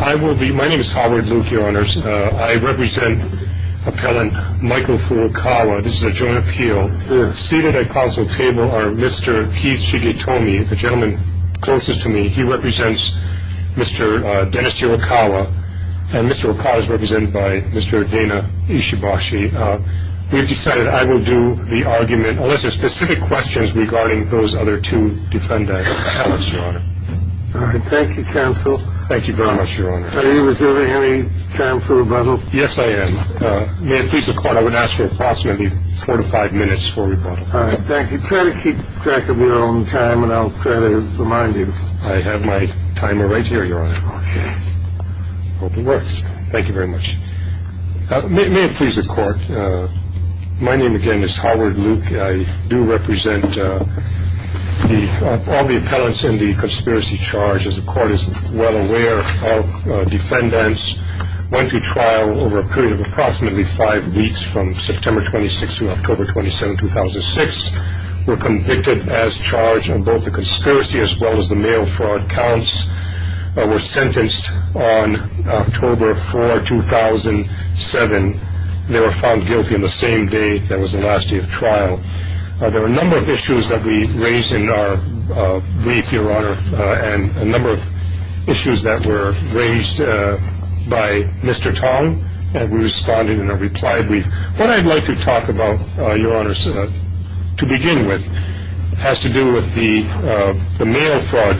I will be my name is Howard Luke your honors I represent appellant Michael Furukawa this is a joint appeal seated at council table are mr. Keith Shigetomi the gentleman closest to me he represents mr. Dennis Hirokawa and mr. Hirokawa is represented by mr. Dana Ishibashi we've decided I will do the argument unless there's specific questions regarding those other two defendants. Thank you counsel. Thank you very much your honor. Any time for rebuttal? Yes I am. May it please the court I would ask for approximately four to five minutes for rebuttal. Thank you. Try to keep track of your own time and I'll try to remind you. I have my timer right here your honor. Okay. Hope it works. Thank you very much. May it please the court my name again is Howard Luke I do represent the all the appellants in the conspiracy charge as the court is well aware of defendants went to trial over a period of approximately five weeks from September 26 to October 27 2006 were convicted as charged on both the conspiracy as well as the mail fraud counts were sentenced on October 4 2007 they were found guilty in the same day that was the last day of trial there are a number of issues that we raised in our brief your honor and a number of issues that were raised by mr. Tong and we responded in a reply brief what I'd like to talk about your honor to begin with has to do with the mail fraud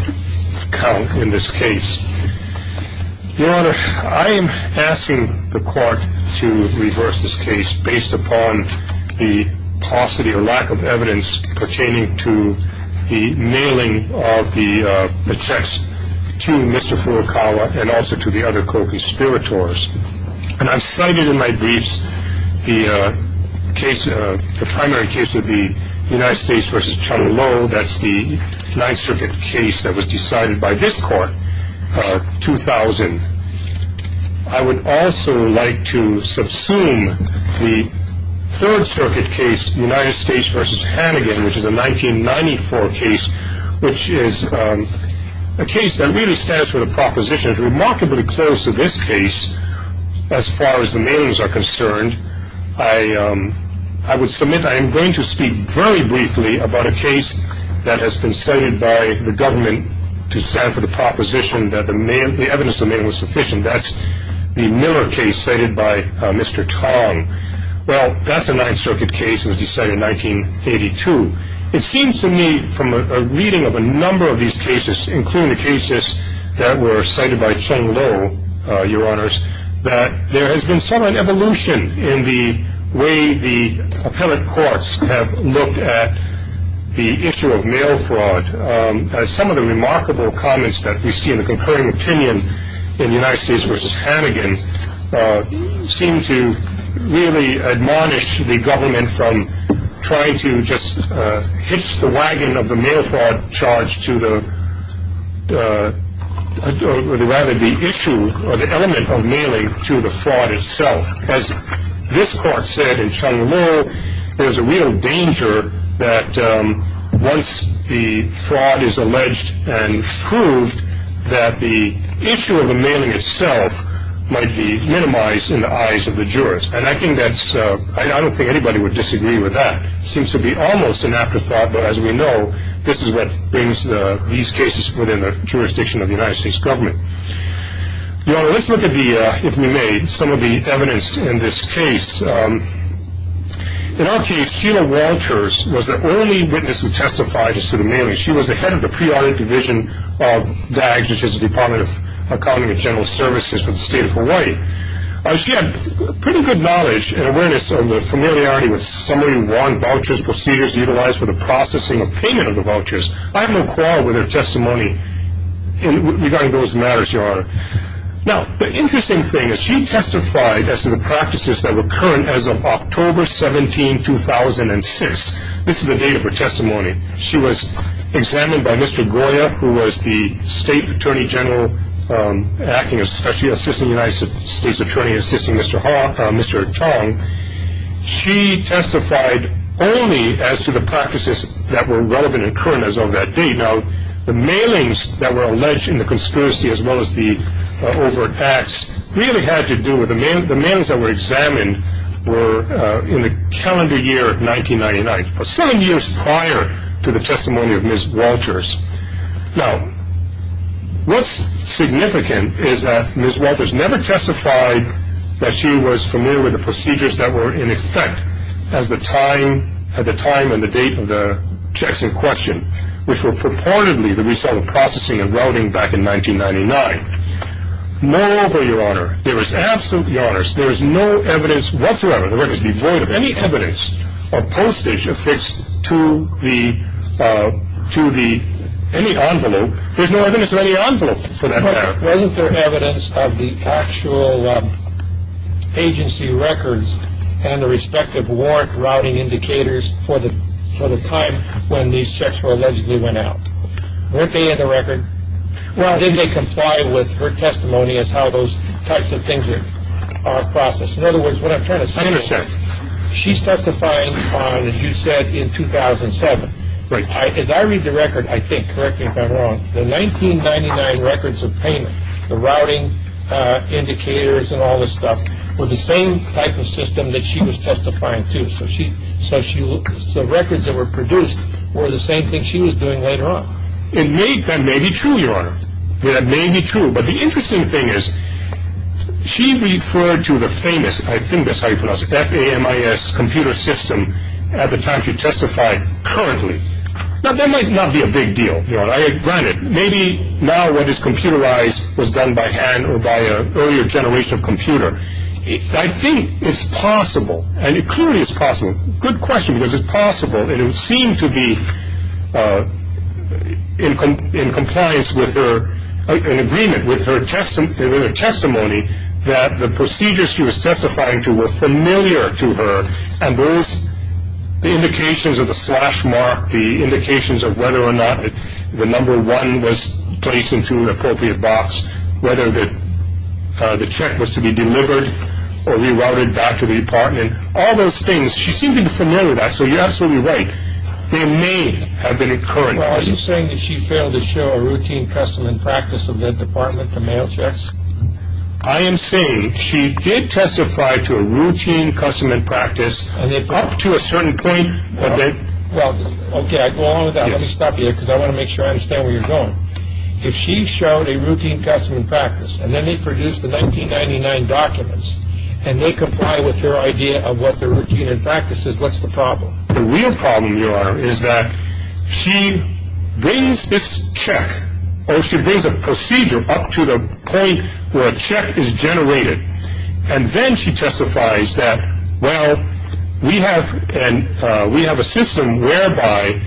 count in this case your honor I am asking the court to reverse this case based upon the paucity or lack of evidence pertaining to the mailing of the checks to Mr. Furukawa and also to the other co-conspirators and I've cited in my briefs the case of the primary case of the United States versus Chung Lo that's the Ninth Circuit case that was decided by this court 2000 I would also like to subsume the Third Circuit case United States versus Hannigan which is a 1994 case which is a case that really stands for the proposition is remarkably close to this case as far as the mailings are concerned I I would submit I am going to speak very briefly about a case that has been cited by the government to stand for the proposition that the mail the evidence of it was sufficient that's the Miller case cited by mr. Tong well that's a Ninth Circuit case was decided 1982 it seems to me from a reading of a number of these cases including the cases that were cited by Chung Lo your honors that there has been some evolution in the way the appellate courts have looked at the issue of mail fraud as some of the remarkable comments that we see in the concurring opinion in the United States versus Hannigan seem to really admonish the government from trying to just hitch the wagon of the mail fraud charge to the rather the issue or the element of mailing to the fraud itself as this court said in Chung Lo there's a real danger that once the fraud is alleged and proved that the issue of the mailing itself might be a threat to the jurors and I think that's I don't think anybody would disagree with that seems to be almost an afterthought but as we know this is what brings these cases within the jurisdiction of the United States government your honor let's look at the if we may some of the evidence in this case in our case Sheila Walters was the only witness who testified as to the mailing she was the head of the pre-audit division of DAGS which is the Department of Accounting and General Services for the state of Hawaii she had pretty good knowledge and awareness of the familiarity with Summary 1 vouchers procedures utilized for the processing of payment of the vouchers I have no quarrel with her testimony regarding those matters your honor now the interesting thing is she testified as to the practices that were current as of October 17, 2006 this is the date of her testimony she was examined by Mr. Goya who was the state attorney general acting as special assistant United States attorney assisting Mr. Chong she testified only as to the practices that were relevant and current as of that date now the mailings that were alleged in the conspiracy as well as the overt acts really had to do with the mailings that were examined were in the calendar year 1999 seven years prior to the testimony of Ms. Walters now what's significant is that Ms. Walters never testified that she was familiar with the procedures that were in effect as the time at the time and the date of the checks in question which were purportedly the result of processing and routing back in 1999 no over your honor there is absolutely no evidence whatsoever of postage affixed to any envelope there's no evidence of any envelope for that matter wasn't there evidence of the actual agency records and the respective warrant routing indicators for the time when these checks were allegedly went out weren't they in the record well did they comply with her testimony as how those types of things are processed in other words what I'm trying to say is she's testifying on as you said in 2007 as I read the record I think correct me if I'm wrong the 1999 records of payment the routing indicators and all this stuff were the same type of system that she was testifying to so records that were produced were the same thing she was doing later on it may that may be true your honor that may be true but the interesting thing is she referred to the famous I think that's how you pronounce it FAMIS computer system at the time she testified currently now that might not be a big deal your honor granted maybe now what is computerized was done by hand or by an earlier generation of computer I think it's possible and it clearly is possible good question because it's possible and it would seem to be in compliance with her in agreement with her testimony that the procedures she was testifying to were familiar to her and those indications of the slash mark the indications of whether or not the number one was placed into an appropriate box whether the check was to be delivered or re-routed back to the department all those things she seemed to be familiar with that so you're absolutely right they may have been occurring well are you saying that she failed to show a routine custom and practice of the department to mail checks I am saying she did testify to a routine custom and practice up to a certain point well ok I go along with that let me stop you there because I want to make sure I understand where you're going if she showed a routine custom and practice and then they produced the 1999 documents and they comply with her idea of what the routine and practice is what's the problem the real problem your honor is that she brings this check or she brings a procedure up to the point where a check is generated and then she testifies that well we have a system whereby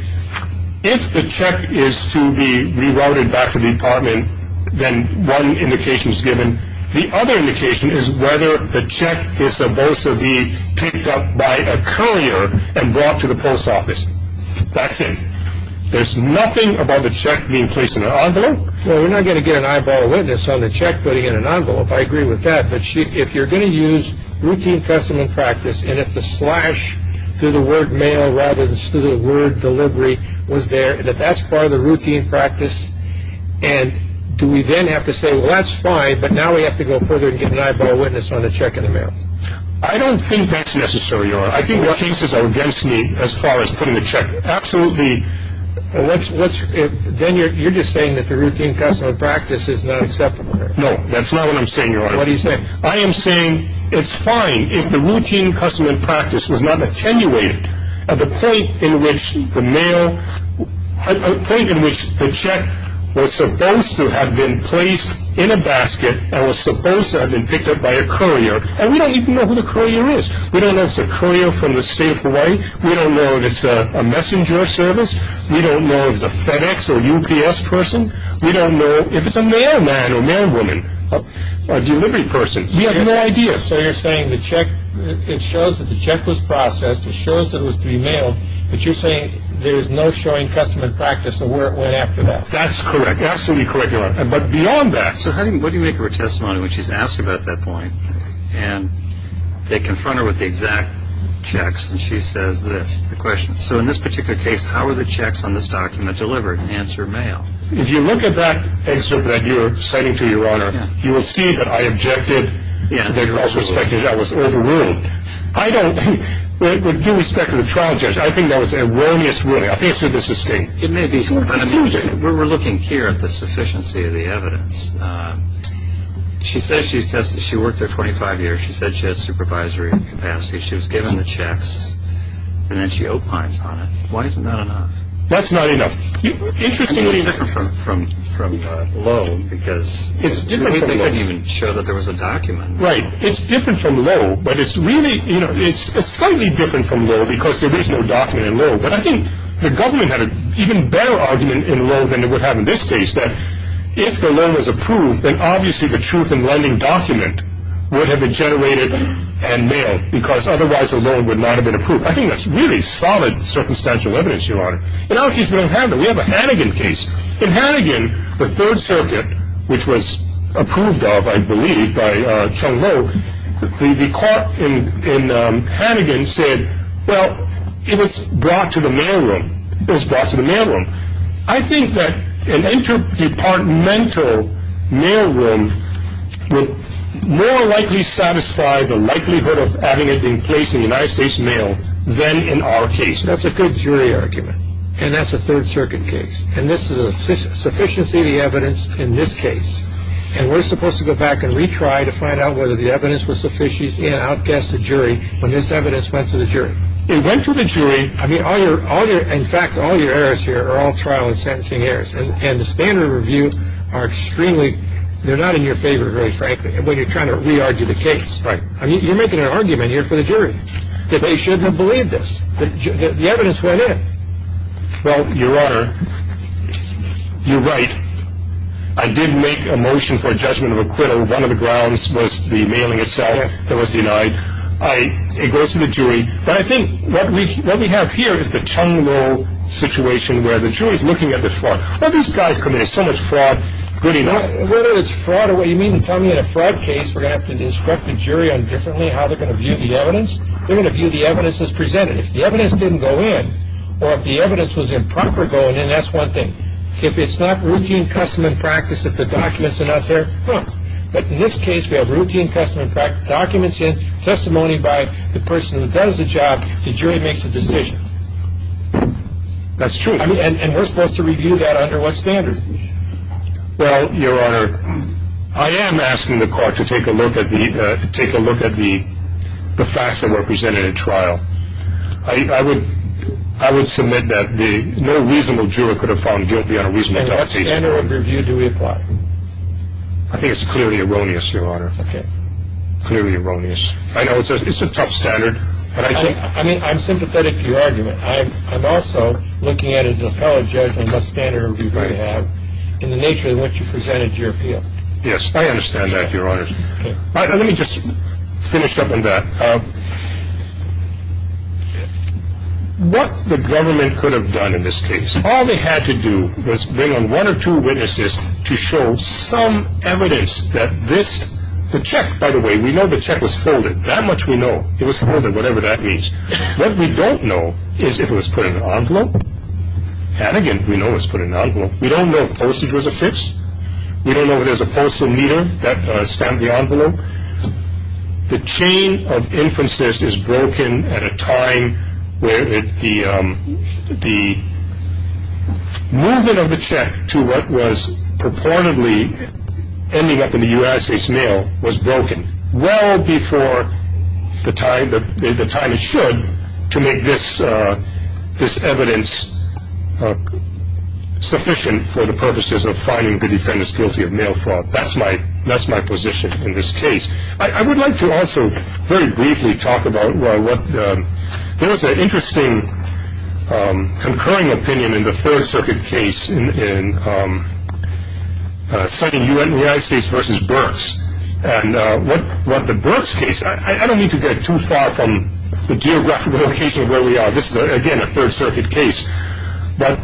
if the check is to be re-routed back to the department then one indication is given the other indication is whether the check is supposed to be picked up by a courier and brought to the post office that's it there's nothing about the check being placed in an envelope well we're not going to get an eyeball witness on the check putting in an envelope I agree with that but if you're going to use routine custom and practice and if the slash through the word mail rather than through the word delivery was there and if that's part of the routine practice and do we then have to say well that's fine but now we have to go further and get an eyeball witness on the check in the mail I don't think that's necessary your honor I think the cases are against me as far as putting the check absolutely then you're just saying that the routine custom and practice is not acceptable no that's not what I'm saying your honor what are you saying I am saying it's fine if the routine custom and practice is not attenuated at the point in which the mail at the point in which the check was supposed to have been placed in a basket and was supposed to have been picked up by a courier and we don't even know who the courier is we don't know if it's a courier from the state of Hawaii we don't know if it's a messenger service we don't know if it's a FedEx or UPS person we don't know if it's a mailman or a mailwoman or a delivery person we have no idea so you're saying the check it shows that the check was processed it shows that it was to be mailed but you're saying there's no showing custom and practice of where it went after that that's correct absolutely correct your honor but beyond that so what do you make of her testimony when she's asked about that point and they confront her with the exact checks and she says this the question so in this particular case how are the checks on this document delivered answer mail if you look at that excerpt that you're citing to your honor you will see that I objected that was overruled I don't think with due respect to the trial judge I think that was erroneous ruling I think it should be sustained we're looking here at the sufficiency of the evidence she says she's tested she worked there 25 years she said she had supervisory capacity she was given the checks and then she opines on it why isn't that enough that's not enough I mean it's different from loan because we didn't even show that there was a document right it's different from loan but it's really you know it's slightly different from loan because there is no document in loan but I think the government had an even better argument in loan than it would have in this case that if the loan was approved then obviously the truth in lending document would have been generated and mailed because otherwise the loan would not have been approved I think that's really solid circumstantial evidence your honor and now she's going to handle we have a Hannigan case in Hannigan the third circuit which was approved of I believe by Chung Lo the court in Hannigan said well it was brought to the mail room it was brought to the mail room I think that an interdepartmental mail room would more likely satisfy the likelihood of having it in place in the United States mail than in our case that's a good jury argument and that's a third circuit case and this is a sufficiency of the evidence in this case and we're supposed to go back and retry to find out whether the evidence was sufficient and out guess the jury when this evidence went to the jury in fact all your errors here are all trial and sentencing errors and the standard review are extremely they're not in your favor very frankly when you're trying to re-argue the case you're making an argument here for the jury that they shouldn't have believed this the evidence went in well your honor you're right I did make a motion for a judgment of acquittal one of the grounds was the mailing itself that was denied it goes to the jury but I think what we have here is the Chung Lo situation where the jury is looking at the fraud well these guys commit so much fraud good enough whether it's fraud or what you mean to tell me in a fraud case we're going to have to instruct the jury on differently how they're going to view the evidence they're going to view the evidence as presented if the evidence didn't go in or if the evidence was improper going in that's one thing if it's not routine custom and practice if the documents are not there but in this case we have routine custom and practice documents in testimony by the person that does the job the jury makes a decision that's true and we're supposed to review that under what standard well your honor I am asking the court to take a look at the facts that were presented at trial I would submit that no reasonable juror could have found guilty on a reasonable doubt and what standard of review do we apply I think it's clearly erroneous your honor clearly erroneous I know it's a tough standard I'm sympathetic to your argument I'm also looking at it as an appellate judge on what standard of review we have in the nature of what you presented to your appeal yes I understand that your honor let me just finish up on that what the government could have done in this case all they had to do was bring on one or two witnesses to show some evidence that this the check by the way we know the check was folded that much we know it was folded whatever that means what we don't know is if it was put in an envelope Hannigan we know it was put in an envelope we don't know if postage was a fix we don't know if there was a postal meter that stamped the envelope the chain of inferences is broken at a time where the movement of the check to what was purportedly ending up in the United States mail was broken well before the time that the time it should to make this this evidence sufficient for the purposes of finding the defendants guilty of mail fraud that's my that's my position in this case I would like to also very briefly talk about what there was an interesting concurring opinion in the Third Circuit case in citing United States versus Burks and what the Burks case I don't mean to get too far from the geographical location of where we are this is again a Third Circuit case but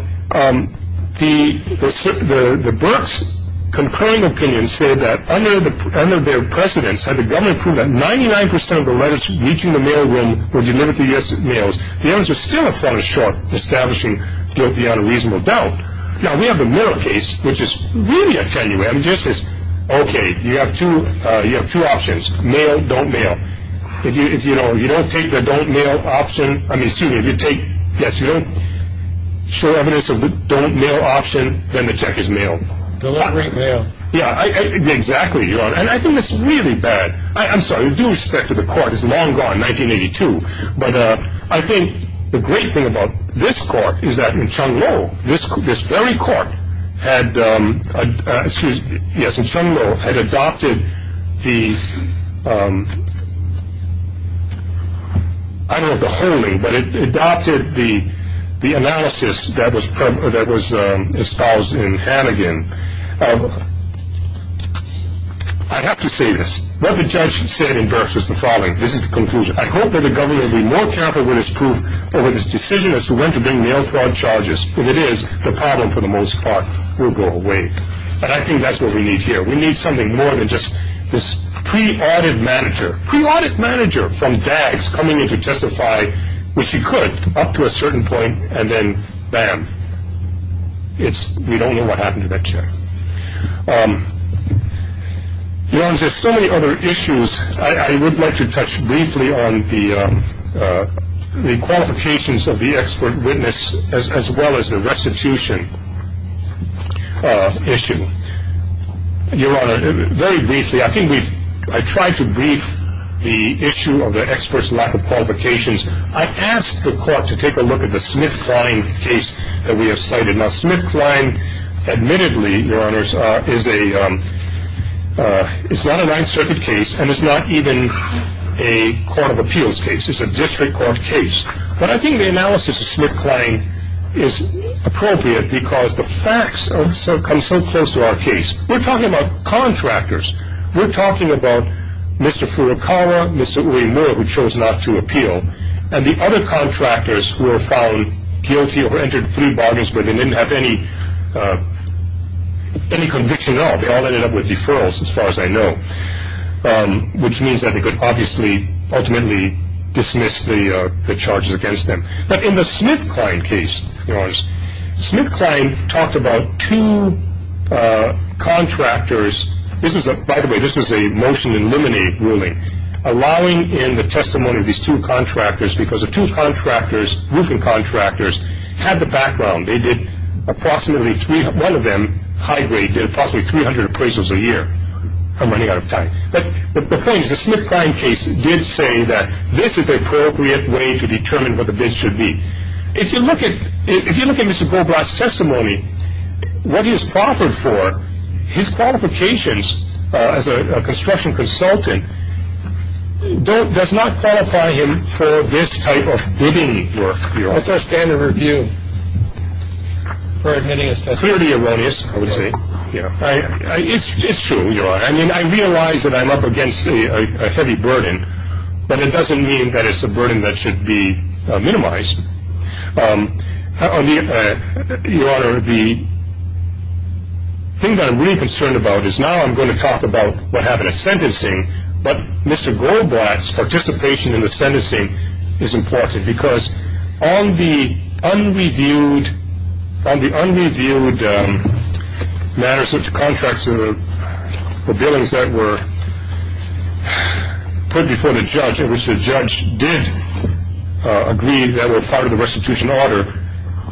the Burks concurring opinion said that under their precedence had the government proved that 99% of the letters reaching the mail room were delivered to the U.S. mails the evidence was still a fall short establishing guilt beyond a reasonable doubt now we have the mail case which is really a tenue I mean this is okay you have two you have two options mail don't mail if you if you know you don't take the don't mail option I mean excuse me if you take yes you don't show evidence of the don't mail option then the check is mailed delivering mail yeah I exactly you know and I think this is really bad I'm sorry due respect to the court is long gone 1982 but I think the great thing about this court is that in Chung Lo this this very court had yes in Chung Lo had adopted the I don't know if the holding but it adopted the analysis that was espoused in Hannigan I have to say this what the judge said in Burks was the following this is the conclusion I hope that the government will be more careful with its decision as to when to bring mail fraud charges if it is the problem for the most part will go away but I think that's what we need here we need something more than just this pre-audit manager pre-audit manager from DAGS coming in to testify which he could up to a certain point and then BAM it's we don't know what happened to that check you know there's so many other issues I would like to touch briefly on the qualifications of the expert witness as well as the restitution issue your honor very briefly I think we've I tried to brief the issue of the experts lack of qualifications I asked the court to take a look at the Smith Klein case that we have cited now Smith Klein admittedly your honor is a it's not a Ninth Circuit case and it's not even a court of appeals case it's a district court case but I think the analysis of Smith Klein is appropriate because the facts come so close to our case we're talking about contractors we're talking about Mr. Furukawa Mr. Uemura who chose not to appeal and the other contractors who were found guilty or entered plea bargains but they didn't have any conviction at all they all ended up with deferrals as far as I know which means that they could obviously ultimately dismiss the charges against them but in the Smith Klein case your honors Smith Klein talked about two contractors this is a by the way this is a motion to eliminate ruling allowing in the testimony of these two contractors because the two contractors roofing contractors had the background they did approximately one of them high grade did approximately 300 appraisals a year I'm running out of time but the point is the Smith Klein case did say that this is the appropriate way to determine what the bids should be if you look at if you look at Mr. Goldblatt's testimony what he is proffered for his qualifications as a construction consultant does not qualify him for this type of bidding work your honor your honor the thing that I'm really concerned about is now I'm going to talk about what happened at sentencing but Mr. Goldblatt's participation in the sentencing is important because on the unreviewed on the unreviewed matters such as contracts and the billings that were put before the judge did agree that were part of the restitution order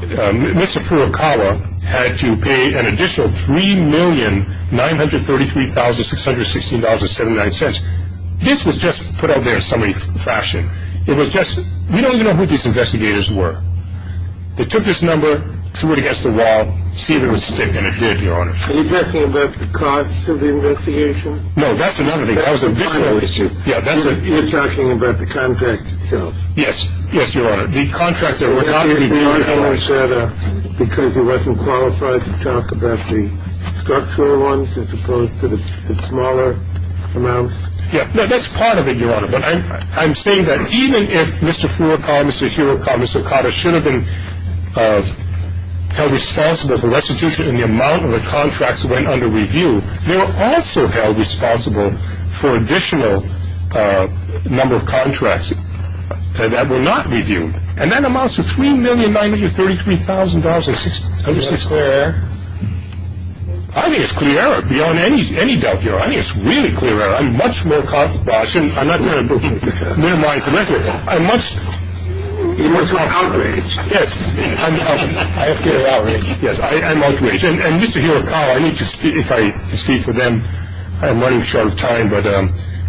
Mr. Furukawa had to pay an additional $3,933,616.79 this was just put out there in summary fashion it was just we don't even know who these investigators were they took this number threw it against the wall see if it was stiff and it did your honor are you talking about the costs of the investigation? no that's another thing that was additional issue you're talking about the contract itself yes your honor the contracts that were not in the contract because he wasn't qualified to talk about the structural ones as opposed to the smaller amounts that's part of it your honor but I'm saying that even if Mr. Furukawa, Mr. Hirokawa, Mr. Okada should have been held responsible for restitution and the amount of the contracts that went under review they were also held responsible for additional number of contracts that were not reviewed and that amounts to $3,933,616 is that clear error? I think it's clear error beyond any doubt your honor I think it's really clear error I'm much more confident I'm not going to minimize the lesson I'm much you're much more outraged yes I'm outraged and Mr. Hirokawa I need to speak if I speak for them I'm running short of time but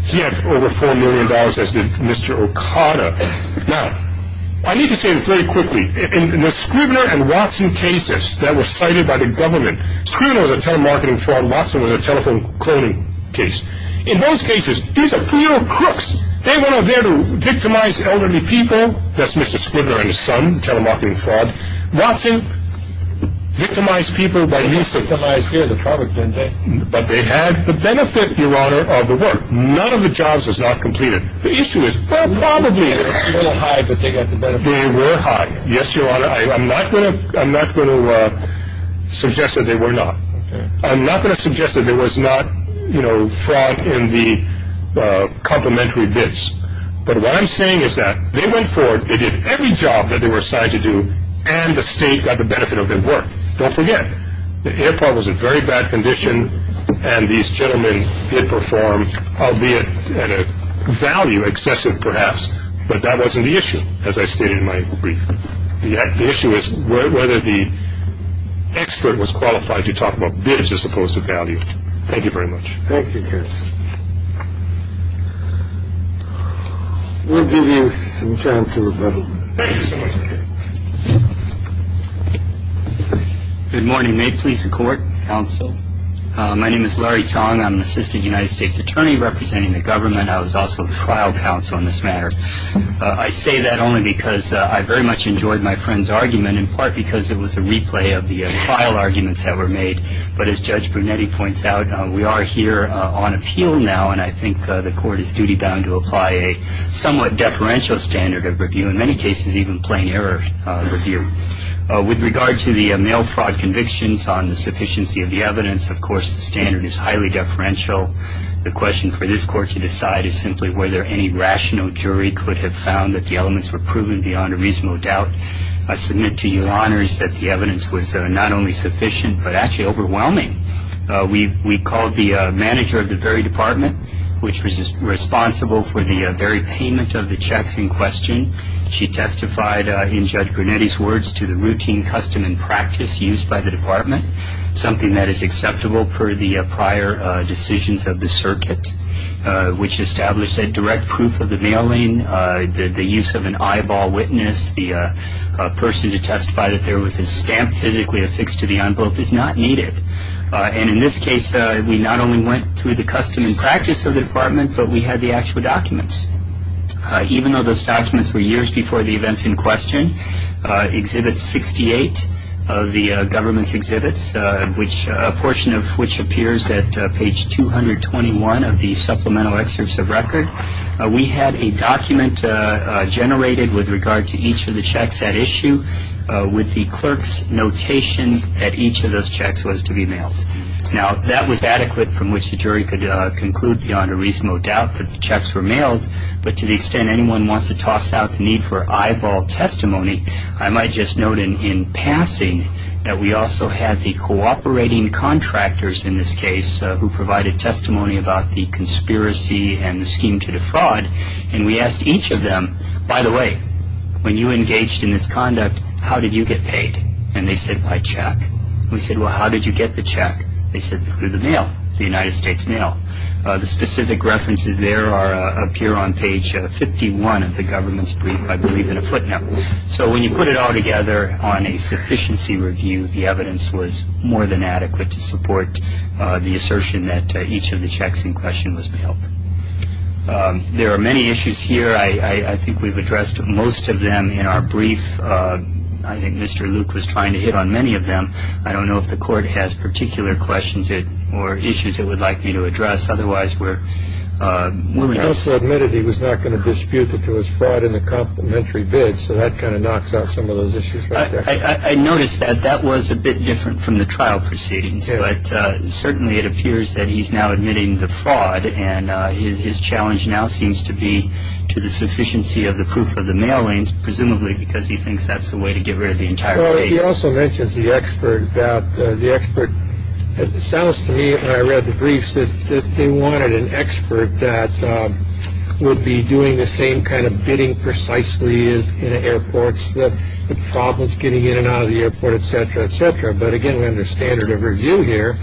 he had over $4,000,000 as did Mr. Okada now I need to say this very quickly in the Scribner and Watson cases that were cited by the government Scribner was a telemarketing fraud Watson was a telephone cloning case in those cases these are real crooks they were not there to victimize elderly people that's Mr. Scribner and his son telemarketing fraud Watson victimized people by leasing but they had the benefit your honor of the work none of the jobs was not completed the issue is well probably they were high yes your honor I'm not going to suggest that they were not I'm not going to suggest that there was not fraud in the complimentary bids but what I'm saying is that they went forward they did every job that they were assigned to do and the state got the benefit of their work don't forget the airport was in very bad condition and these gentlemen did perform albeit at a value excessive perhaps but that wasn't the issue as I stated in my brief the issue is whether the expert was qualified to talk about bids as opposed to value thank you very much thank you we'll give you some time to rebuttal good morning may it please the court counsel my name is Larry Tong I'm an assistant United States attorney representing the government I was also the trial counsel on this matter I say that only because I very much enjoyed my friend's argument in part because it was a replay of the trial arguments that were made but as Judge Brunetti points out we are here on appeal now and I think the court is duty bound to apply a somewhat deferential standard of review in many cases even plain error review with regard to the mail fraud convictions on the sufficiency of the evidence of course the standard is highly deferential the question for this court to decide is simply whether any rational jury could have found that the elements were proven beyond a reasonable doubt I submit to your honors that the evidence was not only sufficient but actually overwhelming we called the manager of the very department which was responsible for the very payment of the checks in question she testified in Judge Brunetti's words to the routine custom and practice used by the department something that is acceptable for the prior decisions of the circuit which established that direct proof of the mailing the use of an eyeball witness the person to testify that there was a stamp physically affixed to the envelope is not needed and in this case we not only went through the custom and practice of the department but we had the actual documents even though those documents were years before the events in question we had a document generated with regard to each of the checks at issue with the clerk's notation that each of those checks was to be mailed now that was adequate from which the jury could conclude beyond a reasonable doubt that the checks were mailed but to the extent anyone wants to toss out the need for eyeball testimony I might just note in passing that we also had the cooperating contractors in this case who provided testimony about the conspiracy and the scheme to defraud and we asked each of them by the way when you engaged in this conduct how did you get paid and they said by check we said well how did you get the check they said through the mail the United States mail the specific references there appear on page 51 of the government's brief I believe in a footnote so when you put it all together on a sufficiency review the evidence was more than adequate to support the assertion that each of the checks in question was mailed there are many issues here I think we've addressed most of them in our brief I think Mr. Luke was trying to hit on many of them I don't know if the court has particular questions or issues it would like me to address otherwise we're he also admitted he was not going to dispute that there was fraud in the complimentary bid so that kind of knocks off some of those issues I noticed that that was a bit different from the trial proceedings but certainly it appears that he's now admitting the fraud and his challenge now seems to be to the sufficiency of the proof of the mailings presumably because he thinks that's the way to get rid of the entire case he also mentions the expert that the expert it sounds to me when I read the briefs that they wanted an expert that would be doing the same kind of bidding precisely as in airports that the problem is getting in and out of the airport etc etc but again we have the standard of review here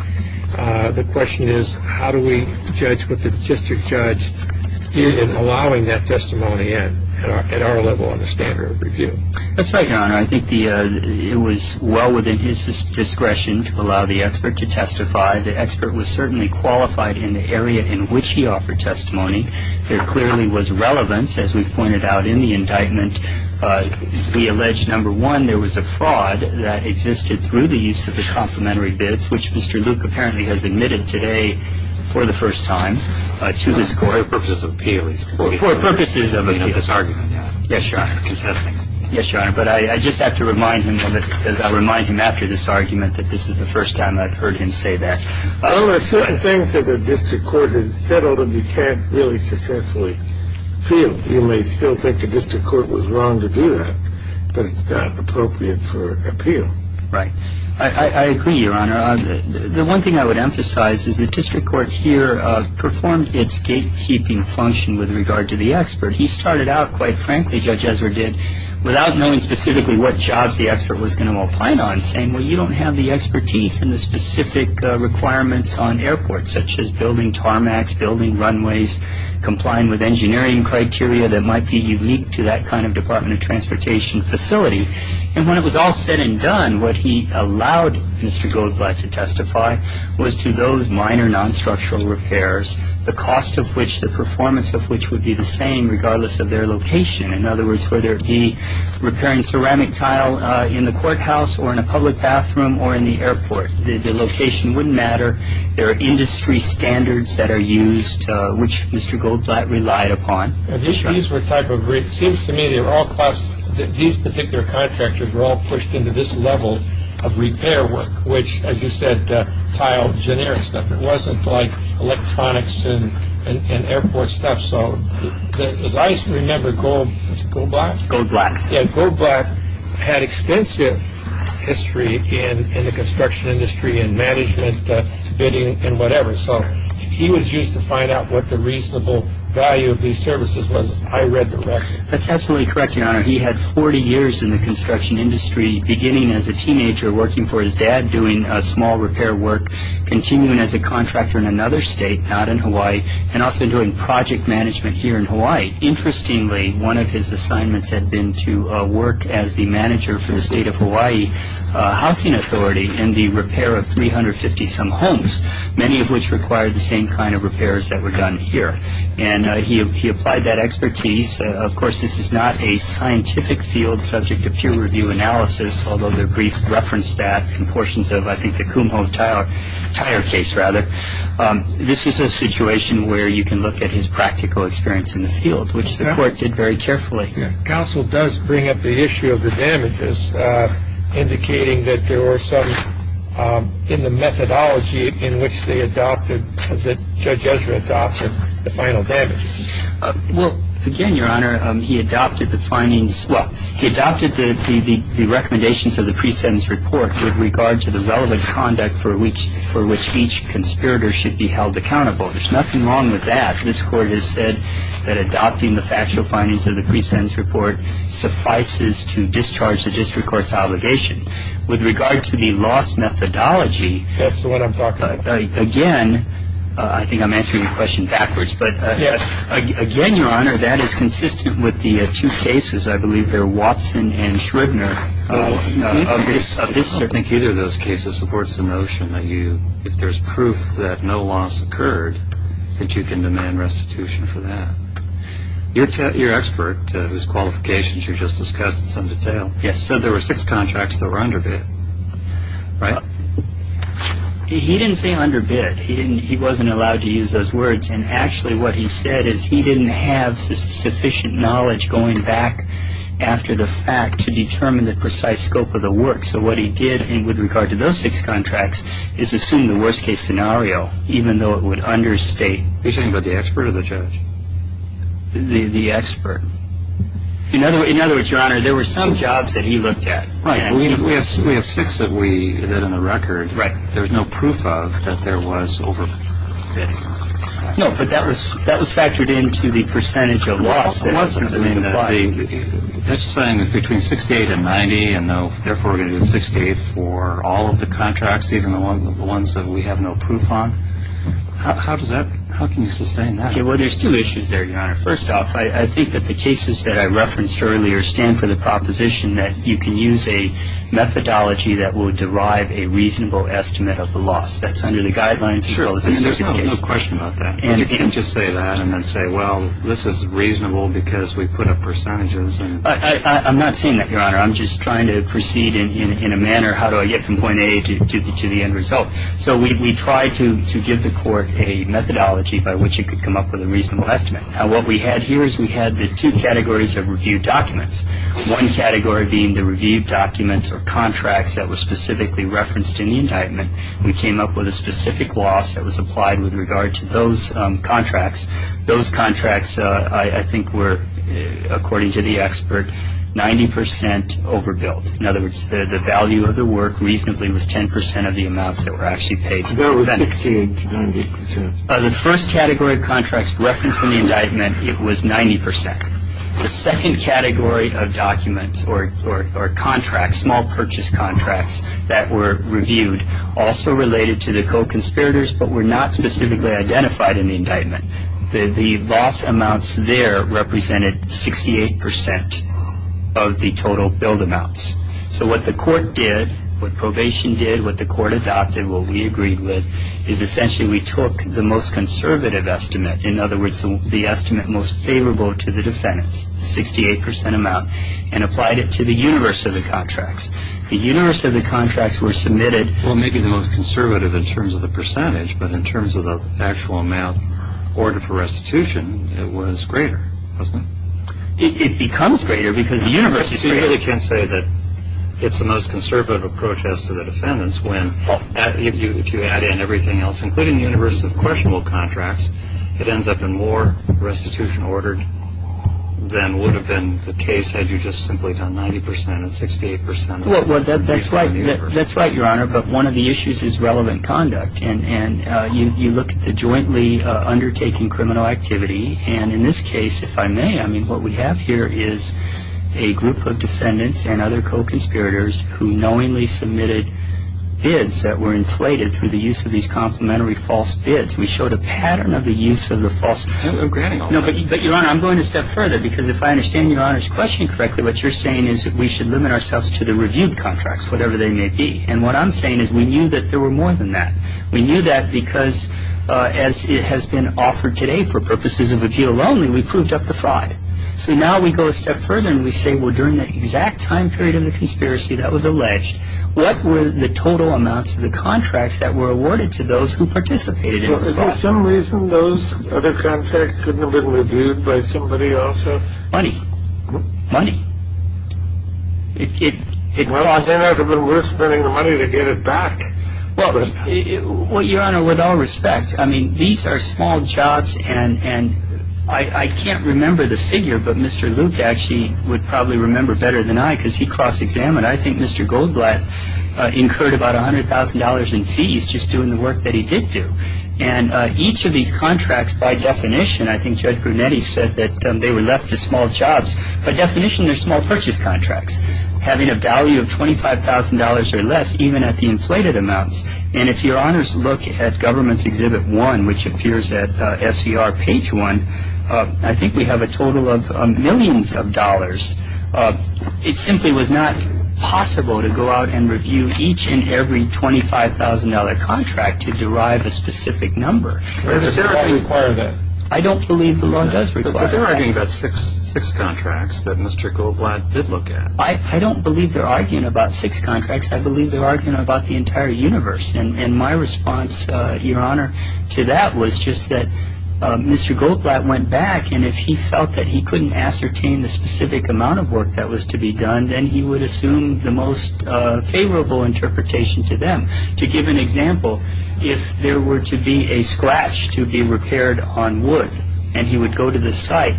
the question is how do we judge with the district judge in allowing that testimony in at our level on the standard of review that's right your honor I think it was well within his discretion to allow the expert to testify the expert was certainly qualified in the area in which he offered testimony there clearly was relevance as we've pointed out in the indictment we allege number one there was a fraud that existed through the use of the complimentary bids which Mr. Luke apparently has admitted today for the first time for purposes of appeal he's contesting yes your honor but I just have to remind him of it because I'll remind him after this argument that this is the first time I've heard him say that well there are certain things that the district court has settled and you can't really successfully appeal you may still think the district court was wrong to do that but it's not appropriate for appeal right I agree your honor the one thing I would emphasize is the district court here performed its gatekeeping function with regard to the expert he started out quite frankly Judge Ezra did without knowing specifically what jobs the expert was going to opine on saying well you don't have the expertise and the specific requirements on airports such as building tarmacs, building runways, complying with engineering criteria that might be unique to that kind of department of transportation facility and when it was all said and done what he allowed Mr. Goldblatt to testify was to those minor non-structural repairs the cost of which the performance of which would be the same regardless of their location in other words whether it be repairing ceramic tile in the courthouse or in a public bathroom or in the airport the location wouldn't matter there are industry standards that are used which Mr. Goldblatt relied upon it seems to me that these particular contractors were all pushed into this level of repair work which as you said tile generic stuff it wasn't like electronics and airport stuff so as I remember Goldblatt had extensive history in the construction industry and management bidding and whatever so he was used to find out what the reasonable value of these services was I read the record that's absolutely correct your honor he had 40 years in the construction industry beginning as a teenager working for his dad doing small repair work continuing as a contractor in another state not in Hawaii and also doing project management here in Hawaii interestingly one of his assignments had been to work as the manager for the state of Hawaii housing authority in the repair of 350 some homes many of which required the same kind of repairs that were done here and he applied that expertise of course this is not a scientific field subject to peer review analysis although the brief referenced that in portions of I think the Kumho tile tire case rather this is a situation where you can look at his practical experience in the field which the court did very carefully counsel does bring up the issue of the damages indicating that there were some in the methodology in which they adopted that Judge Ezra adopted the final damages well again your honor he adopted the findings well he adopted the recommendations of the pre-sentence report with regard to the relevant conduct for which for which each conspirator should be held accountable there's nothing wrong with that this court has said that adopting the factual findings of the pre-sentence report suffices to discharge the district court's obligation with regard to the loss methodology that's the one I'm talking about again I think I'm answering your question backwards but again your honor that is consistent with the two cases I believe they're Watson and Schroedner I don't think either of those cases supports the notion that you if there's proof that no loss occurred that you can demand restitution for that your expert whose qualifications you just discussed in some detail yes said there were six contracts that were underbid right he didn't say underbid he didn't he wasn't allowed to use those words and actually what he said is he didn't have sufficient knowledge going back after the fact to determine the precise scope of the work so what he did and with regard to those six contracts is assume the worst case scenario even though it would understate are you talking about the expert or the judge the expert in other words your honor there were some jobs that he looked at right we have six that we that in the record there's no proof of that there was overbidding no but that was that was factored into the percentage of loss that's saying that between 68 and 90 and therefore we're going to do 68 for all of the contracts even the ones that we have no proof on how does that how can you sustain that okay well there's two issues there your honor first off I think that the cases that I referenced earlier stand for the proposition that you can use a methodology that will derive a reasonable estimate of the loss that's under the guidelines there's no question about that and you can just say that and then say well this is reasonable because we put up percentages I'm not saying that your honor I'm just trying to proceed in a manner how do I get from point A to the end result so we try to give the court a methodology by which it could come up with a reasonable estimate now what we had here is we had the two categories of review documents one category being the review documents or contracts that were specifically referenced in the indictment we came up with a specific loss that was applied with regard to those contracts those contracts I think were according to the expert 90% overbuilt in other words the value of the work reasonably was 10% of the amounts that were actually paid that was 68 to 90% the first category of contracts referenced in the indictment it was 90% the second category of documents or contracts small purchase contracts that were reviewed also related to the co-conspirators but were not specifically identified in the indictment the loss amounts there represented 68% of the total billed amounts so what the court did what probation did what the court adopted what we agreed with is essentially we took the most conservative estimate in other words the estimate most favorable to the defendants 68% amount and applied it to the universe of the contracts the universe of the contracts were submitted well maybe the most conservative in terms of the percentage but in terms of the actual amount ordered for restitution it was greater wasn't it? it becomes greater because the universe is greater you really can't say that it's the most conservative approach as to the defendants when if you add in everything else including the universe of questionable contracts it ends up in more restitution ordered than would have been the case had you just simply done 90% and 68% that's right your honor but one of the issues is relevant conduct and you look at the jointly undertaking criminal activity and in this case if I may I mean what we have here is a group of defendants and other co-conspirators who knowingly submitted bids that were inflated through the use of these complimentary false bids we showed a pattern of the use of the false bids but your honor I'm going a step further because if I understand your honors question correctly what you're saying is that we should limit ourselves to the reviewed contracts whatever they may be and what I'm saying is we knew that there were more than that we knew that because as it has been offered today for purposes of appeal only we proved up the fraud so now we go a step further and we say well during the exact time period of the conspiracy that was alleged what were the total amounts of the contracts that were awarded to those who participated well is there some reason those other contracts couldn't have been reviewed by somebody else money money well I say that it would have been worth spending the money to get it back well your honor with all respect I mean these are small jobs and I can't remember the figure but Mr. Luke actually would probably remember better than I because he cross examined I think Mr. Goldblatt incurred about $100,000 in fees just doing the work that he did do and each of these contracts by definition I think Judge Brunetti said that they were left to small jobs by definition they're small purchase contracts having a value of $25,000 or less even at the inflated amounts and if your honors look at government's exhibit one which appears at SCR page one I think we have a total of millions of dollars it simply was not possible to go out and review each and every $25,000 contract to derive a specific number I don't believe the law does require that but they're arguing about six contracts that Mr. Goldblatt did look at I don't believe they're arguing about six contracts I believe they're arguing about the entire universe and my response your honor to that was just that Mr. Goldblatt went back and if he felt that he couldn't ascertain the specific amount of work that was to be done then he would assume the most favorable interpretation to them to give an example if there were to be a scratch to be repaired on wood and he would go to the site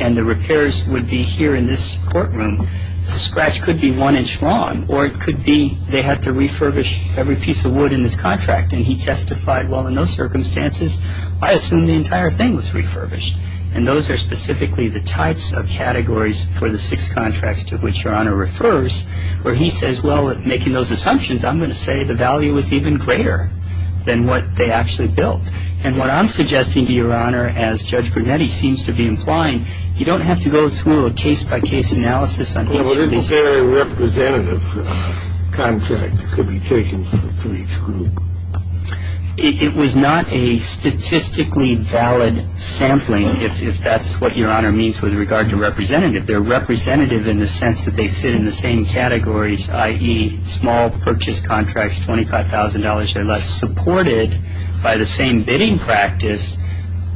and the repairs would be here in this courtroom the scratch could be one inch long or it could be they have to refurbish every piece of wood in this contract and he testified well in those circumstances I assume the entire thing was refurbished and those are specifically the types of categories for the six contracts to which your honor refers where he says well making those assumptions I'm going to say the value is even greater than what they actually built and what I'm suggesting to your honor as Judge Brunetti seems to be implying you don't have to go through a case by case analysis well this is a representative contract that could be taken for each group it was not a statistically valid sampling if that's what your honor means with regard to representative they're representative in the sense that they fit in the same categories i.e. small purchase contracts $25,000 or less supported by the same bidding practice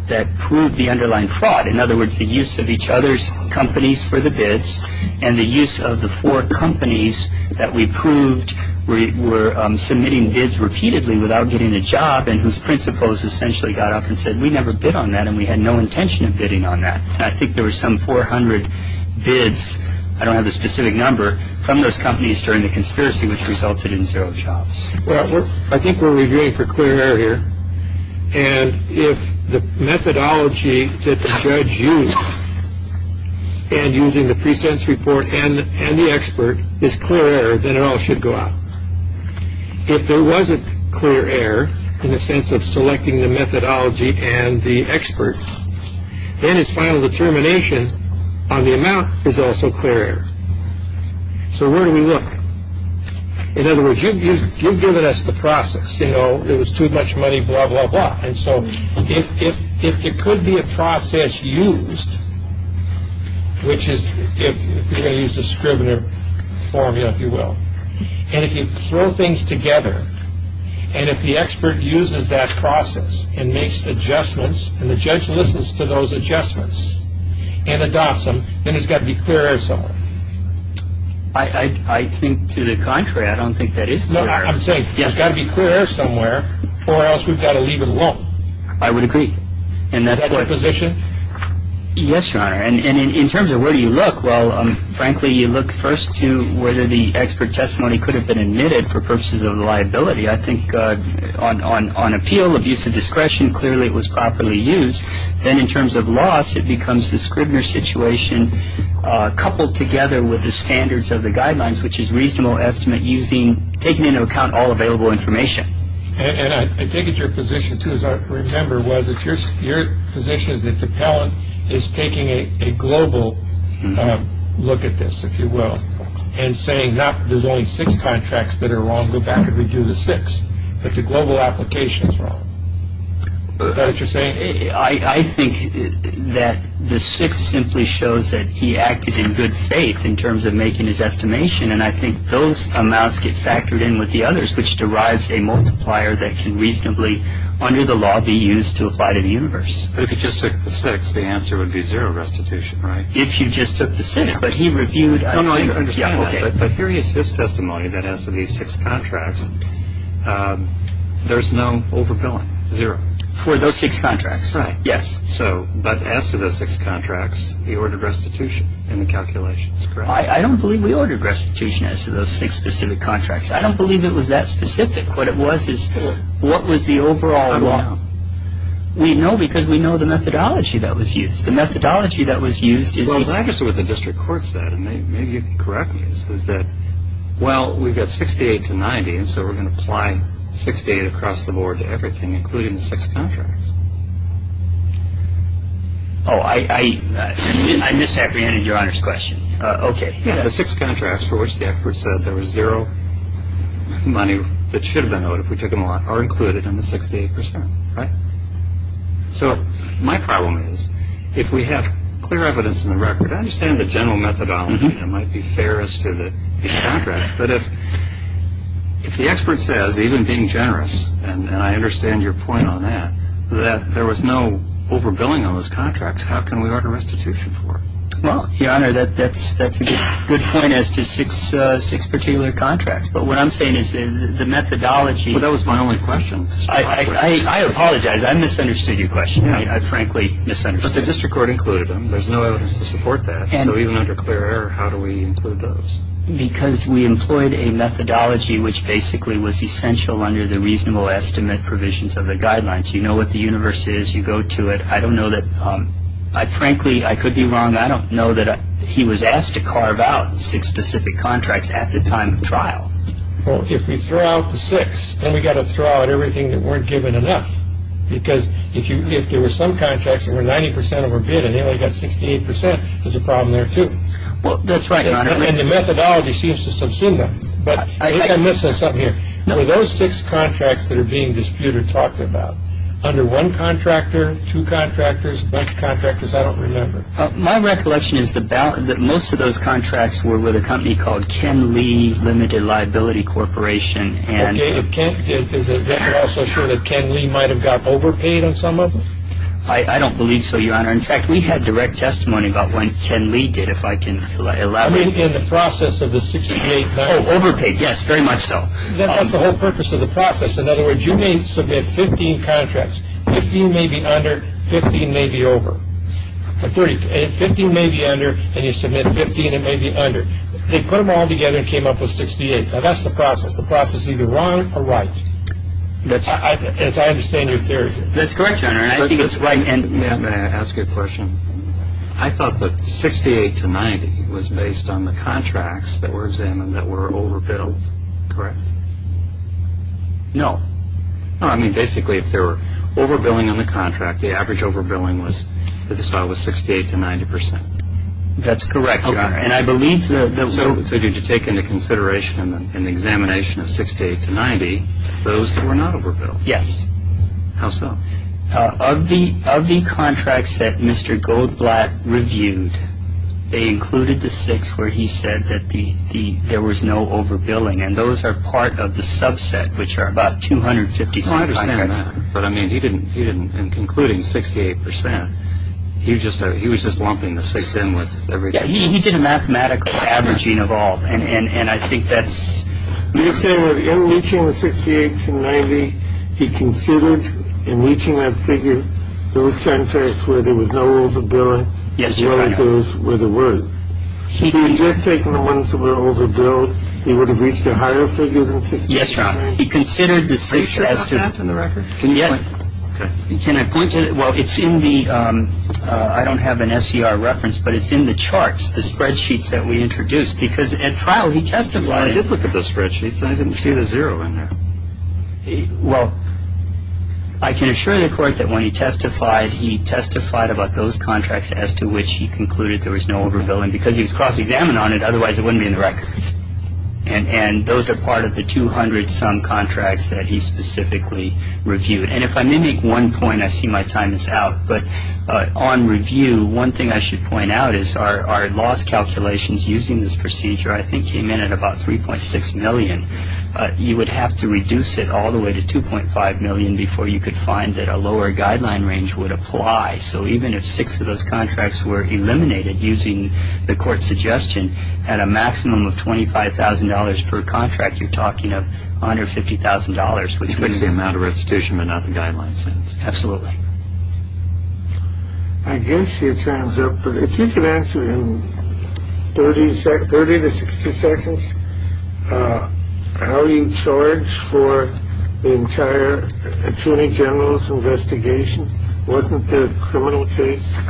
that proved the underlying fraud in other words the use of each other's companies for the bids and the use of the four companies that we proved were submitting bids repeatedly without getting a job and whose principals essentially got up and said we never bid on that and we had no intention of bidding on that and I think there were some 400 bids I don't have the specific number from those companies during the conspiracy which resulted in zero jobs I think we're reviewing for clear error here and if the methodology that the judge used and using the pre-sentence report and the expert is clear error then it all should go out if there wasn't clear error in the sense of selecting the methodology and the expert then it's final determination on the amount is also clear error so where do we look in other words you've given us the process you know it was too much money blah blah blah and so if there could be a process used which is if you're going to use the Scribner formula if you will and if you throw things together and if the expert uses that process and makes adjustments and the judge listens to those adjustments and adopts them then it's got to be clear error somewhere I think to the contrary I don't think that is clear error I would say it's got to be clear error somewhere or else we've got to leave it alone I would agree Is that your position? Yes your honor and in terms of where do you look well frankly you look first to whether the expert testimony could have been admitted for purposes of liability I think on appeal abuse of discretion clearly it was properly used then in terms of loss it becomes the Scribner situation coupled together with the standards of the guidelines which is reasonable estimate using taking into account all available information and I think it's your position too as I remember was that your position is that the appellant is taking a global look at this if you will and saying there's only six contracts that are wrong go back and redo the six but the global application is wrong Is that what you're saying? I think that the six simply shows that he acted in good faith in terms of making his estimation and I think those amounts get factored in with the others which derives a multiplier that can reasonably under the law be used to apply to the universe But if you just took the six the answer would be zero restitution right? If you just took the six but he reviewed No no you understand that But here is his testimony that as to these six contracts there's no overbilling zero For those six contracts? Right Yes So but as to those six contracts he ordered restitution in the calculations correct? I don't believe we ordered restitution as to those six specific contracts I don't believe it was that specific what it was is what was the overall law? I don't know We know because we know the methodology that was used The methodology that was used is I guess what the district court said and maybe you can correct me is that well we've got 68 to 90 and so we're going to apply 68 across the board to everything including the six contracts Oh I misapprehended your honors question Okay The six contracts for which the expert said there was zero money that should have been owed if we took them all out are included in the 68% right? So my problem is if we have clear evidence in the record I understand the general methodology that might be fair as to the contract but if the expert says even being generous and I understand your point on that that there was no overbilling on those contracts how can we order restitution for it? Well your honor that's a good point as to six particular contracts but what I'm saying is the methodology Well that was my only question I apologize I misunderstood your question I frankly misunderstood But the district court included them there's no evidence to support that so even under clear error how do we include those? Because we employed a methodology which basically was essential under the reasonable estimate provisions of the guidelines you know what the universe is you go to it I don't know that I frankly I could be wrong I don't know that he was asked to carve out six specific contracts at the time of trial Well if we throw out the six then we got to throw out everything that weren't given enough because if there were some contracts that were 90% overbilled and they only got 68% there's a problem there too Well that's right your honor And the methodology seems to subsume them But I'm missing something here Were those six contracts that are being disputed talked about? Under one contractor, two contractors, a bunch of contractors I don't remember My recollection is that most of those contracts were with a company called Ken Lee Limited Liability Corporation Is it also true that Ken Lee might have got overpaid on some of them? I don't believe so your honor In fact we had direct testimony about what Ken Lee did if I can elaborate In the process of the 68- Oh overpaid yes very much so That's the whole purpose of the process In other words you may submit 15 contracts 15 may be under, 15 may be over 15 may be under and you submit 15 that may be under They put them all together and came up with 68 Now that's the process, the process is either wrong or right As I understand your theory That's correct your honor May I ask you a question? I thought that 68 to 90 was based on the contracts that were examined that were overbilled Correct No No I mean basically if there were overbilling on the contract The average overbilling was 68 to 90 percent That's correct your honor And I believe the- So did you take into consideration in the examination of 68 to 90 Those that were not overbilled? Yes How so? Of the contracts that Mr. Goldblatt reviewed They included the 6 where he said that there was no overbilling And those are part of the subset which are about 256 contracts But I mean he didn't, in concluding 68 percent He was just lumping the 6 in with everything He did a mathematical averaging of all And I think that's You're saying that in reaching the 68 to 90 He considered in reaching that figure Those contracts where there was no overbilling Yes your honor As well as those where there were If he had just taken the ones that were overbilled He would have reached a higher figure than 68 to 90 Yes your honor Are you sure that's not in the record? Can you point to it? Can I point to it? Well it's in the I don't have an SCR reference But it's in the charts The spreadsheets that we introduced Because at trial he testified I did look at the spreadsheets And I didn't see the zero in there Well I can assure the court that when he testified He testified about those contracts As to which he concluded there was no overbilling Because he was cross-examined on it Otherwise it wouldn't be in the record And those are part of the 200 some contracts That he specifically reviewed And if I may make one point I see my time is out But on review One thing I should point out is Our loss calculations using this procedure I think came in at about 3.6 million You would have to reduce it all the way to 2.5 million Before you could find that a lower guideline range would apply So even if six of those contracts were eliminated Using the court's suggestion At a maximum of $25,000 per contract You're talking about $150,000 Which fits the amount of restitution but not the guideline sentence Absolutely I guess it sums up If you could answer in 30 to 60 seconds How you charge for the entire attorney general's investigation Wasn't there a criminal case?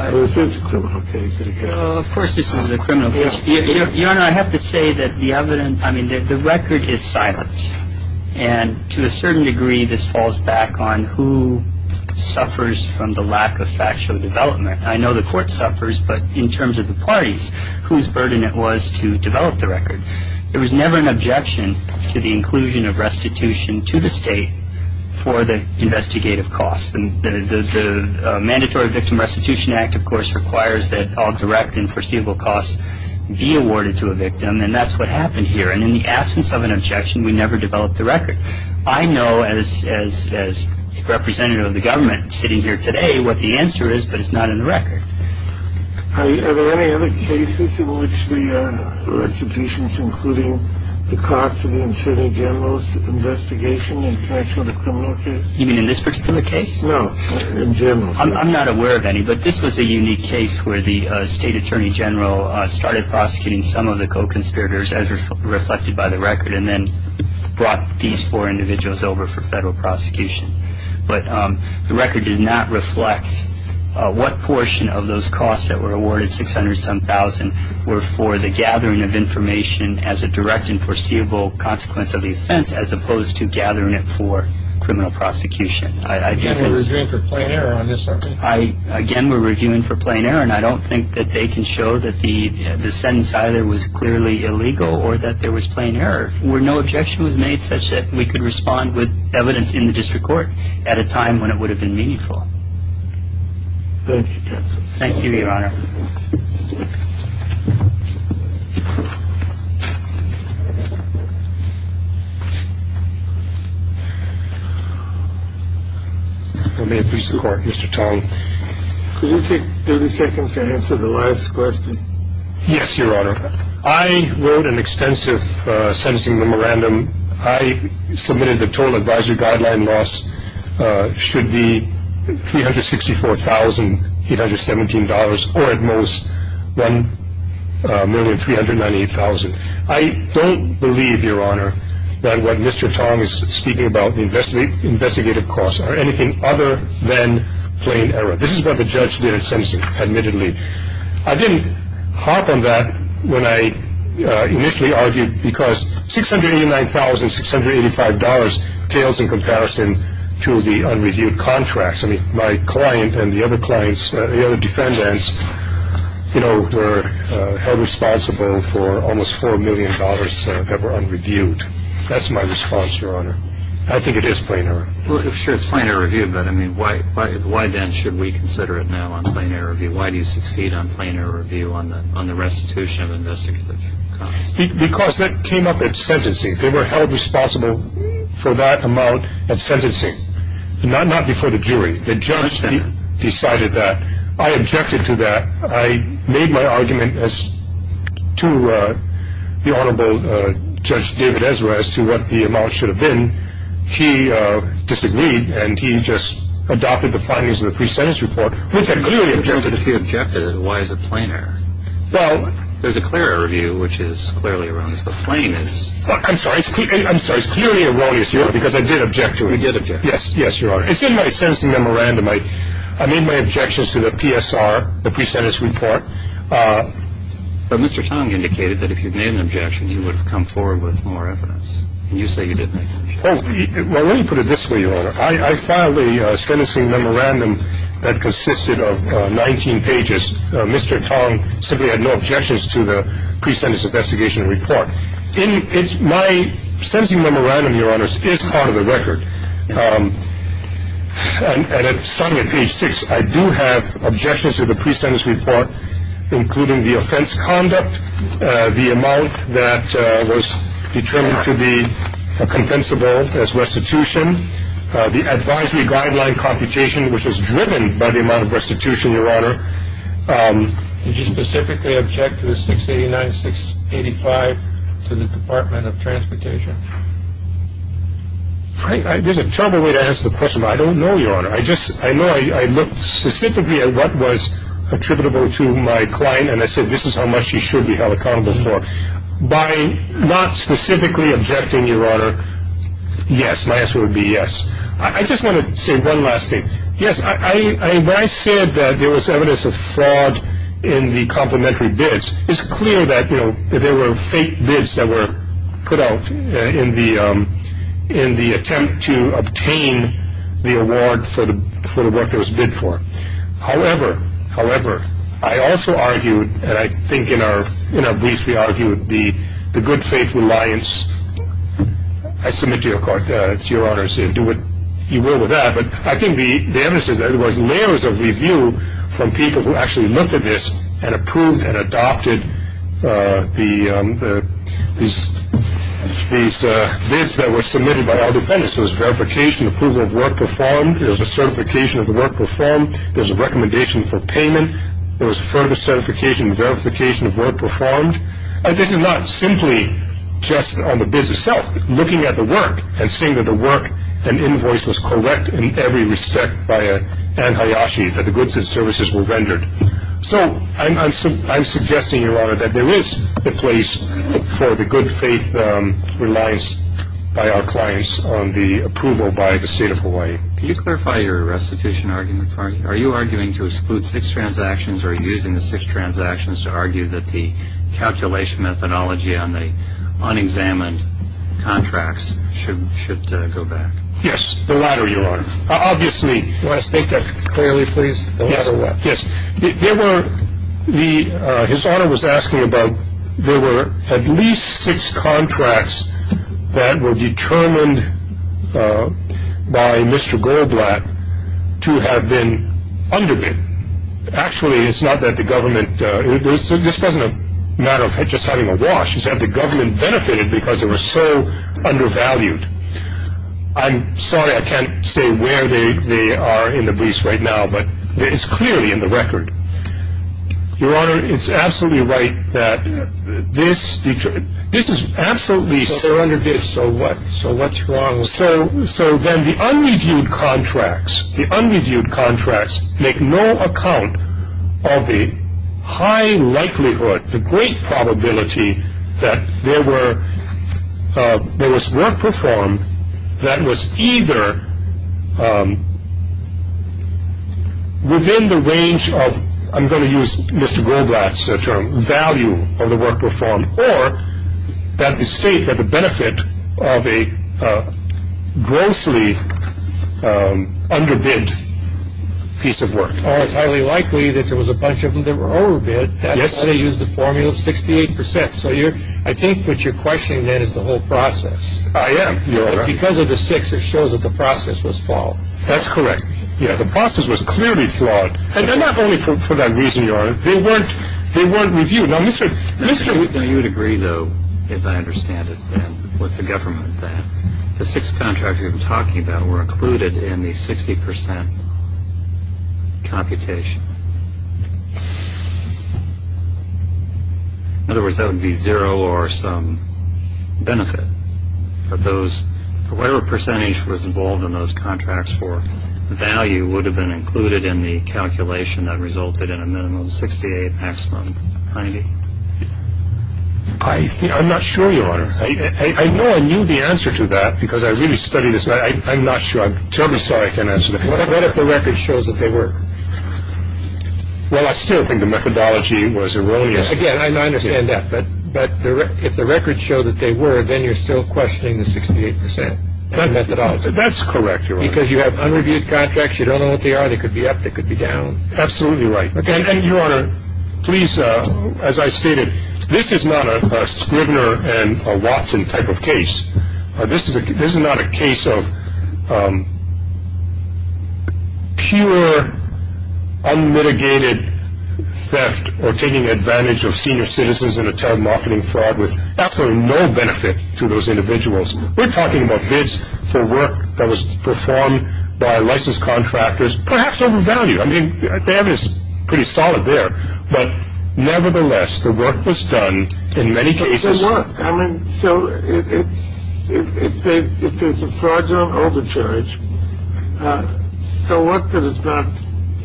This is a criminal case Of course this is a criminal case Your Honor, I have to say that the record is silent And to a certain degree this falls back on Who suffers from the lack of factual development I know the court suffers But in terms of the parties Whose burden it was to develop the record There was never an objection To the inclusion of restitution to the state For the investigative costs The Mandatory Victim Restitution Act of course Requires that all direct and foreseeable costs Be awarded to a victim And that's what happened here And in the absence of an objection We never developed the record I know as a representative of the government Sitting here today What the answer is But it's not in the record Are there any other cases In which the restitution's including The cost of the attorney general's investigation In fact of the criminal case? Even in this particular case? No, in general I'm not aware of any But this was a unique case Where the state attorney general Started prosecuting some of the co-conspirators As reflected by the record And then brought these four individuals over For federal prosecution But the record does not reflect What portion of those costs That were awarded, six hundred some thousand Were for the gathering of information As a direct and foreseeable consequence of the offense As opposed to gathering it for criminal prosecution And we're reviewing for plain error on this argument? Again, we're reviewing for plain error And I don't think that they can show That the sentence either was clearly illegal Or that there was plain error Where no objection was made Such that we could respond with evidence In the district court At a time when it would have been meaningful Thank you, counsel Thank you, your honor May it please the court, Mr. Tong Could you take 30 seconds to answer the last question? Yes, your honor I wrote an extensive sentencing memorandum I submitted the total advisory guideline loss Should be $364,817 Or at most $1,398,000 I don't believe, your honor That what Mr. Tong is speaking about The investigative costs Are anything other than plain error This is what the judge did in sentencing Admittedly I didn't harp on that When I initially argued Because $689,000, $685,000 Tales in comparison to the unreviewed contracts I mean, my client and the other clients The other defendants You know, were held responsible For almost $4 million that were unreviewed That's my response, your honor I think it is plain error Sure, it's plain error review But I mean, why then should we consider it now On plain error review? Why do you succeed on plain error review On the restitution of investigative costs? Because that came up at sentencing They were held responsible for that amount at sentencing Not before the jury The judge decided that I objected to that I made my argument to the Honorable Judge David Ezra As to what the amount should have been He disagreed And he just adopted the findings of the pre-sentence report Which I clearly objected to If he objected, then why is it plain error? Well There's a clear error review Which is clearly erroneous But plain is I'm sorry, it's clearly erroneous, your honor Because I did object to it You did object to it Yes, your honor It's in my sentencing memorandum I made my objections to the PSR The pre-sentence report But Mr. Tong indicated that if you made an objection You would have come forward with more evidence And you say you didn't make an objection Well, let me put it this way, your honor I filed a sentencing memorandum That consisted of 19 pages Mr. Tong simply had no objections to the pre-sentence investigation report My sentencing memorandum, your honors Is part of the record And it's signed at page 6 I do have objections to the pre-sentence report Including the offense conduct The amount that was determined to be compensable as restitution The advisory guideline computation Which was driven by the amount of restitution, your honor Did you specifically object to the 689-685 To the Department of Transportation? There's a terrible way to ask the question But I don't know, your honor I know I looked specifically at what was attributable to my client And I said this is how much you should be held accountable for By not specifically objecting, your honor Yes, my answer would be yes I just want to say one last thing Yes, when I said that there was evidence of fraud in the complimentary bids It's clear that there were fake bids that were put out In the attempt to obtain the award for the work that was bid for However, I also argued And I think in our briefs we argued The good faith reliance I submit to your honors to do what you will with that But I think the evidence is there There was layers of review from people who actually looked at this And approved and adopted these bids that were submitted by our defendants There was verification approval of work performed There was a certification of work performed There was a recommendation for payment There was further certification and verification of work performed And this is not simply just on the bids itself Looking at the work and seeing that the work and invoice was correct in every respect By Anne Hayashi that the goods and services were rendered So I'm suggesting your honor that there is a place for the good faith reliance By our clients on the approval by the state of Hawaii Can you clarify your restitution argument for me Are you arguing to exclude six transactions Or are you using the six transactions to argue that the calculation methodology On the unexamined contracts should go back Yes, the latter your honor Obviously Can you state that clearly please Yes, yes His honor was asking about There were at least six contracts That were determined by Mr. Goldblatt To have been underbid Actually it's not that the government This doesn't matter of just having a wash It's that the government benefited because they were so undervalued I'm sorry I can't say where they are in the briefs right now But it's clearly in the record Your honor it's absolutely right that this This is absolutely So they're underbid so what So what's wrong So then the unreviewed contracts The unreviewed contracts make no account of the high likelihood The great probability that there was work performed That was either Within the range of I'm going to use Mr. Goldblatt's term Value of the work performed Or that the state that the benefit of a Grossly underbid piece of work Or it's highly likely that there was a bunch of them that were overbid Yes And they used the formula of 68% So I think what you're questioning then is the whole process I am Because of the six it shows that the process was flawed That's correct Yeah the process was clearly flawed And not only for that reason your honor They weren't reviewed Now you would agree though as I understand it And with the government that The six contracts you've been talking about were included in the 60% computation In other words that would be zero or some benefit Of those For whatever percentage was involved in those contracts for The value would have been included in the calculation that resulted in a minimum of 68 maximum 90 I think I'm not sure your honor I know I knew the answer to that because I really studied this I'm not sure I'm terribly sorry I can't answer that What if the record shows that they were Well I still think the methodology was erroneous Again I understand that but if the records show that they were Then you're still questioning the 68% That's correct your honor Because you have unreviewed contracts you don't know what they are They could be up they could be down Absolutely right And your honor please as I stated This is not a Scribner and Watson type of case This is not a case of pure unmitigated theft Or taking advantage of senior citizens in a telemarketing fraud With absolutely no benefit to those individuals We're talking about bids for work that was performed by licensed contractors Perhaps overvalued I mean the evidence is pretty solid there But nevertheless the work was done in many cases So if there's a fraudulent overcharge So what that it's not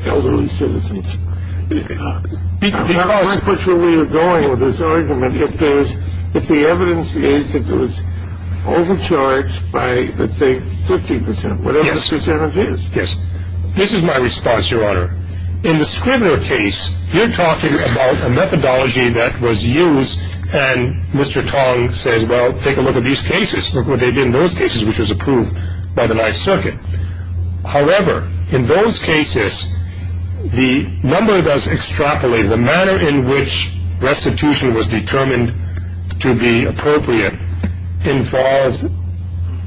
elderly citizens Because I'm not quite sure where you're going with this argument If the evidence is that it was overcharged by let's say 50% Whatever the percentage is This is my response your honor In the Scribner case you're talking about a methodology that was used And Mr. Tong says well take a look at these cases Look what they did in those cases which was approved by the 9th circuit However in those cases the number does extrapolate The manner in which restitution was determined to be appropriate Involves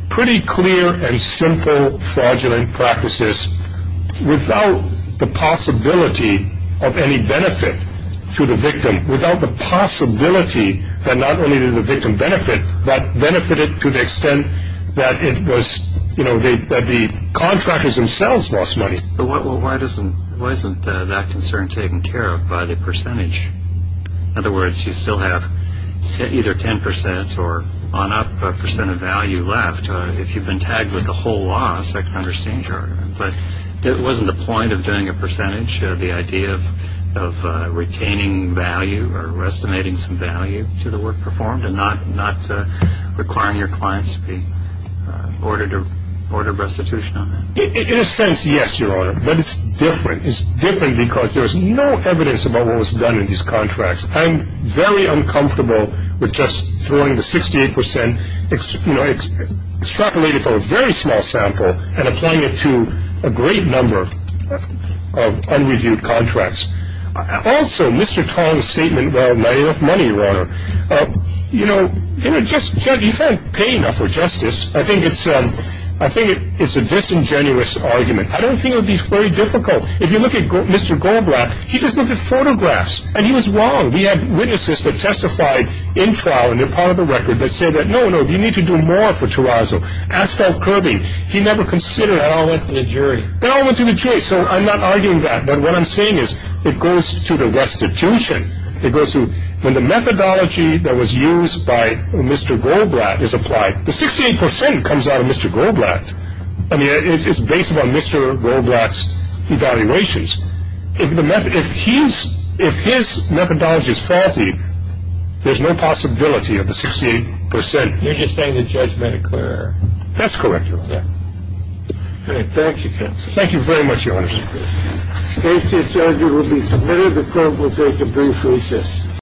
pretty clear and simple fraudulent practices Without the possibility of any benefit to the victim Without the possibility that not only did the victim benefit But benefited to the extent that the contractors themselves lost money Why isn't that concern taken care of by the percentage In other words you still have either 10% or on up a percent of value left If you've been tagged with a whole loss I can understand your argument But it wasn't the point of doing a percentage The idea of retaining value or estimating some value to the work performed And not requiring your clients to be ordered restitution on that In a sense yes your honor but it's different It's different because there's no evidence about what was done in these contracts I'm very uncomfortable with just throwing the 68% Extrapolated from a very small sample And applying it to a great number of unreviewed contracts Also Mr. Tong's statement well not enough money your honor You know you can't pay enough for justice I think it's a disingenuous argument I don't think it would be very difficult If you look at Mr. Goldblatt he just looked at photographs And he was wrong we had witnesses that testified in trial And they're part of the record that said No no you need to do more for Terrazzo As for Kirby he never considered They all went to the jury They all went to the jury so I'm not arguing that But what I'm saying is it goes to the restitution It goes to when the methodology that was used by Mr. Goldblatt is applied The 68% comes out of Mr. Goldblatt I mean it's based on Mr. Goldblatt's evaluations If his methodology is faulty there's no possibility of the 68% You're just saying the judge made a clear error That's correct your honor Thank you counsel Thank you very much your honor The case to the judge will be submitted The court will take a brief recess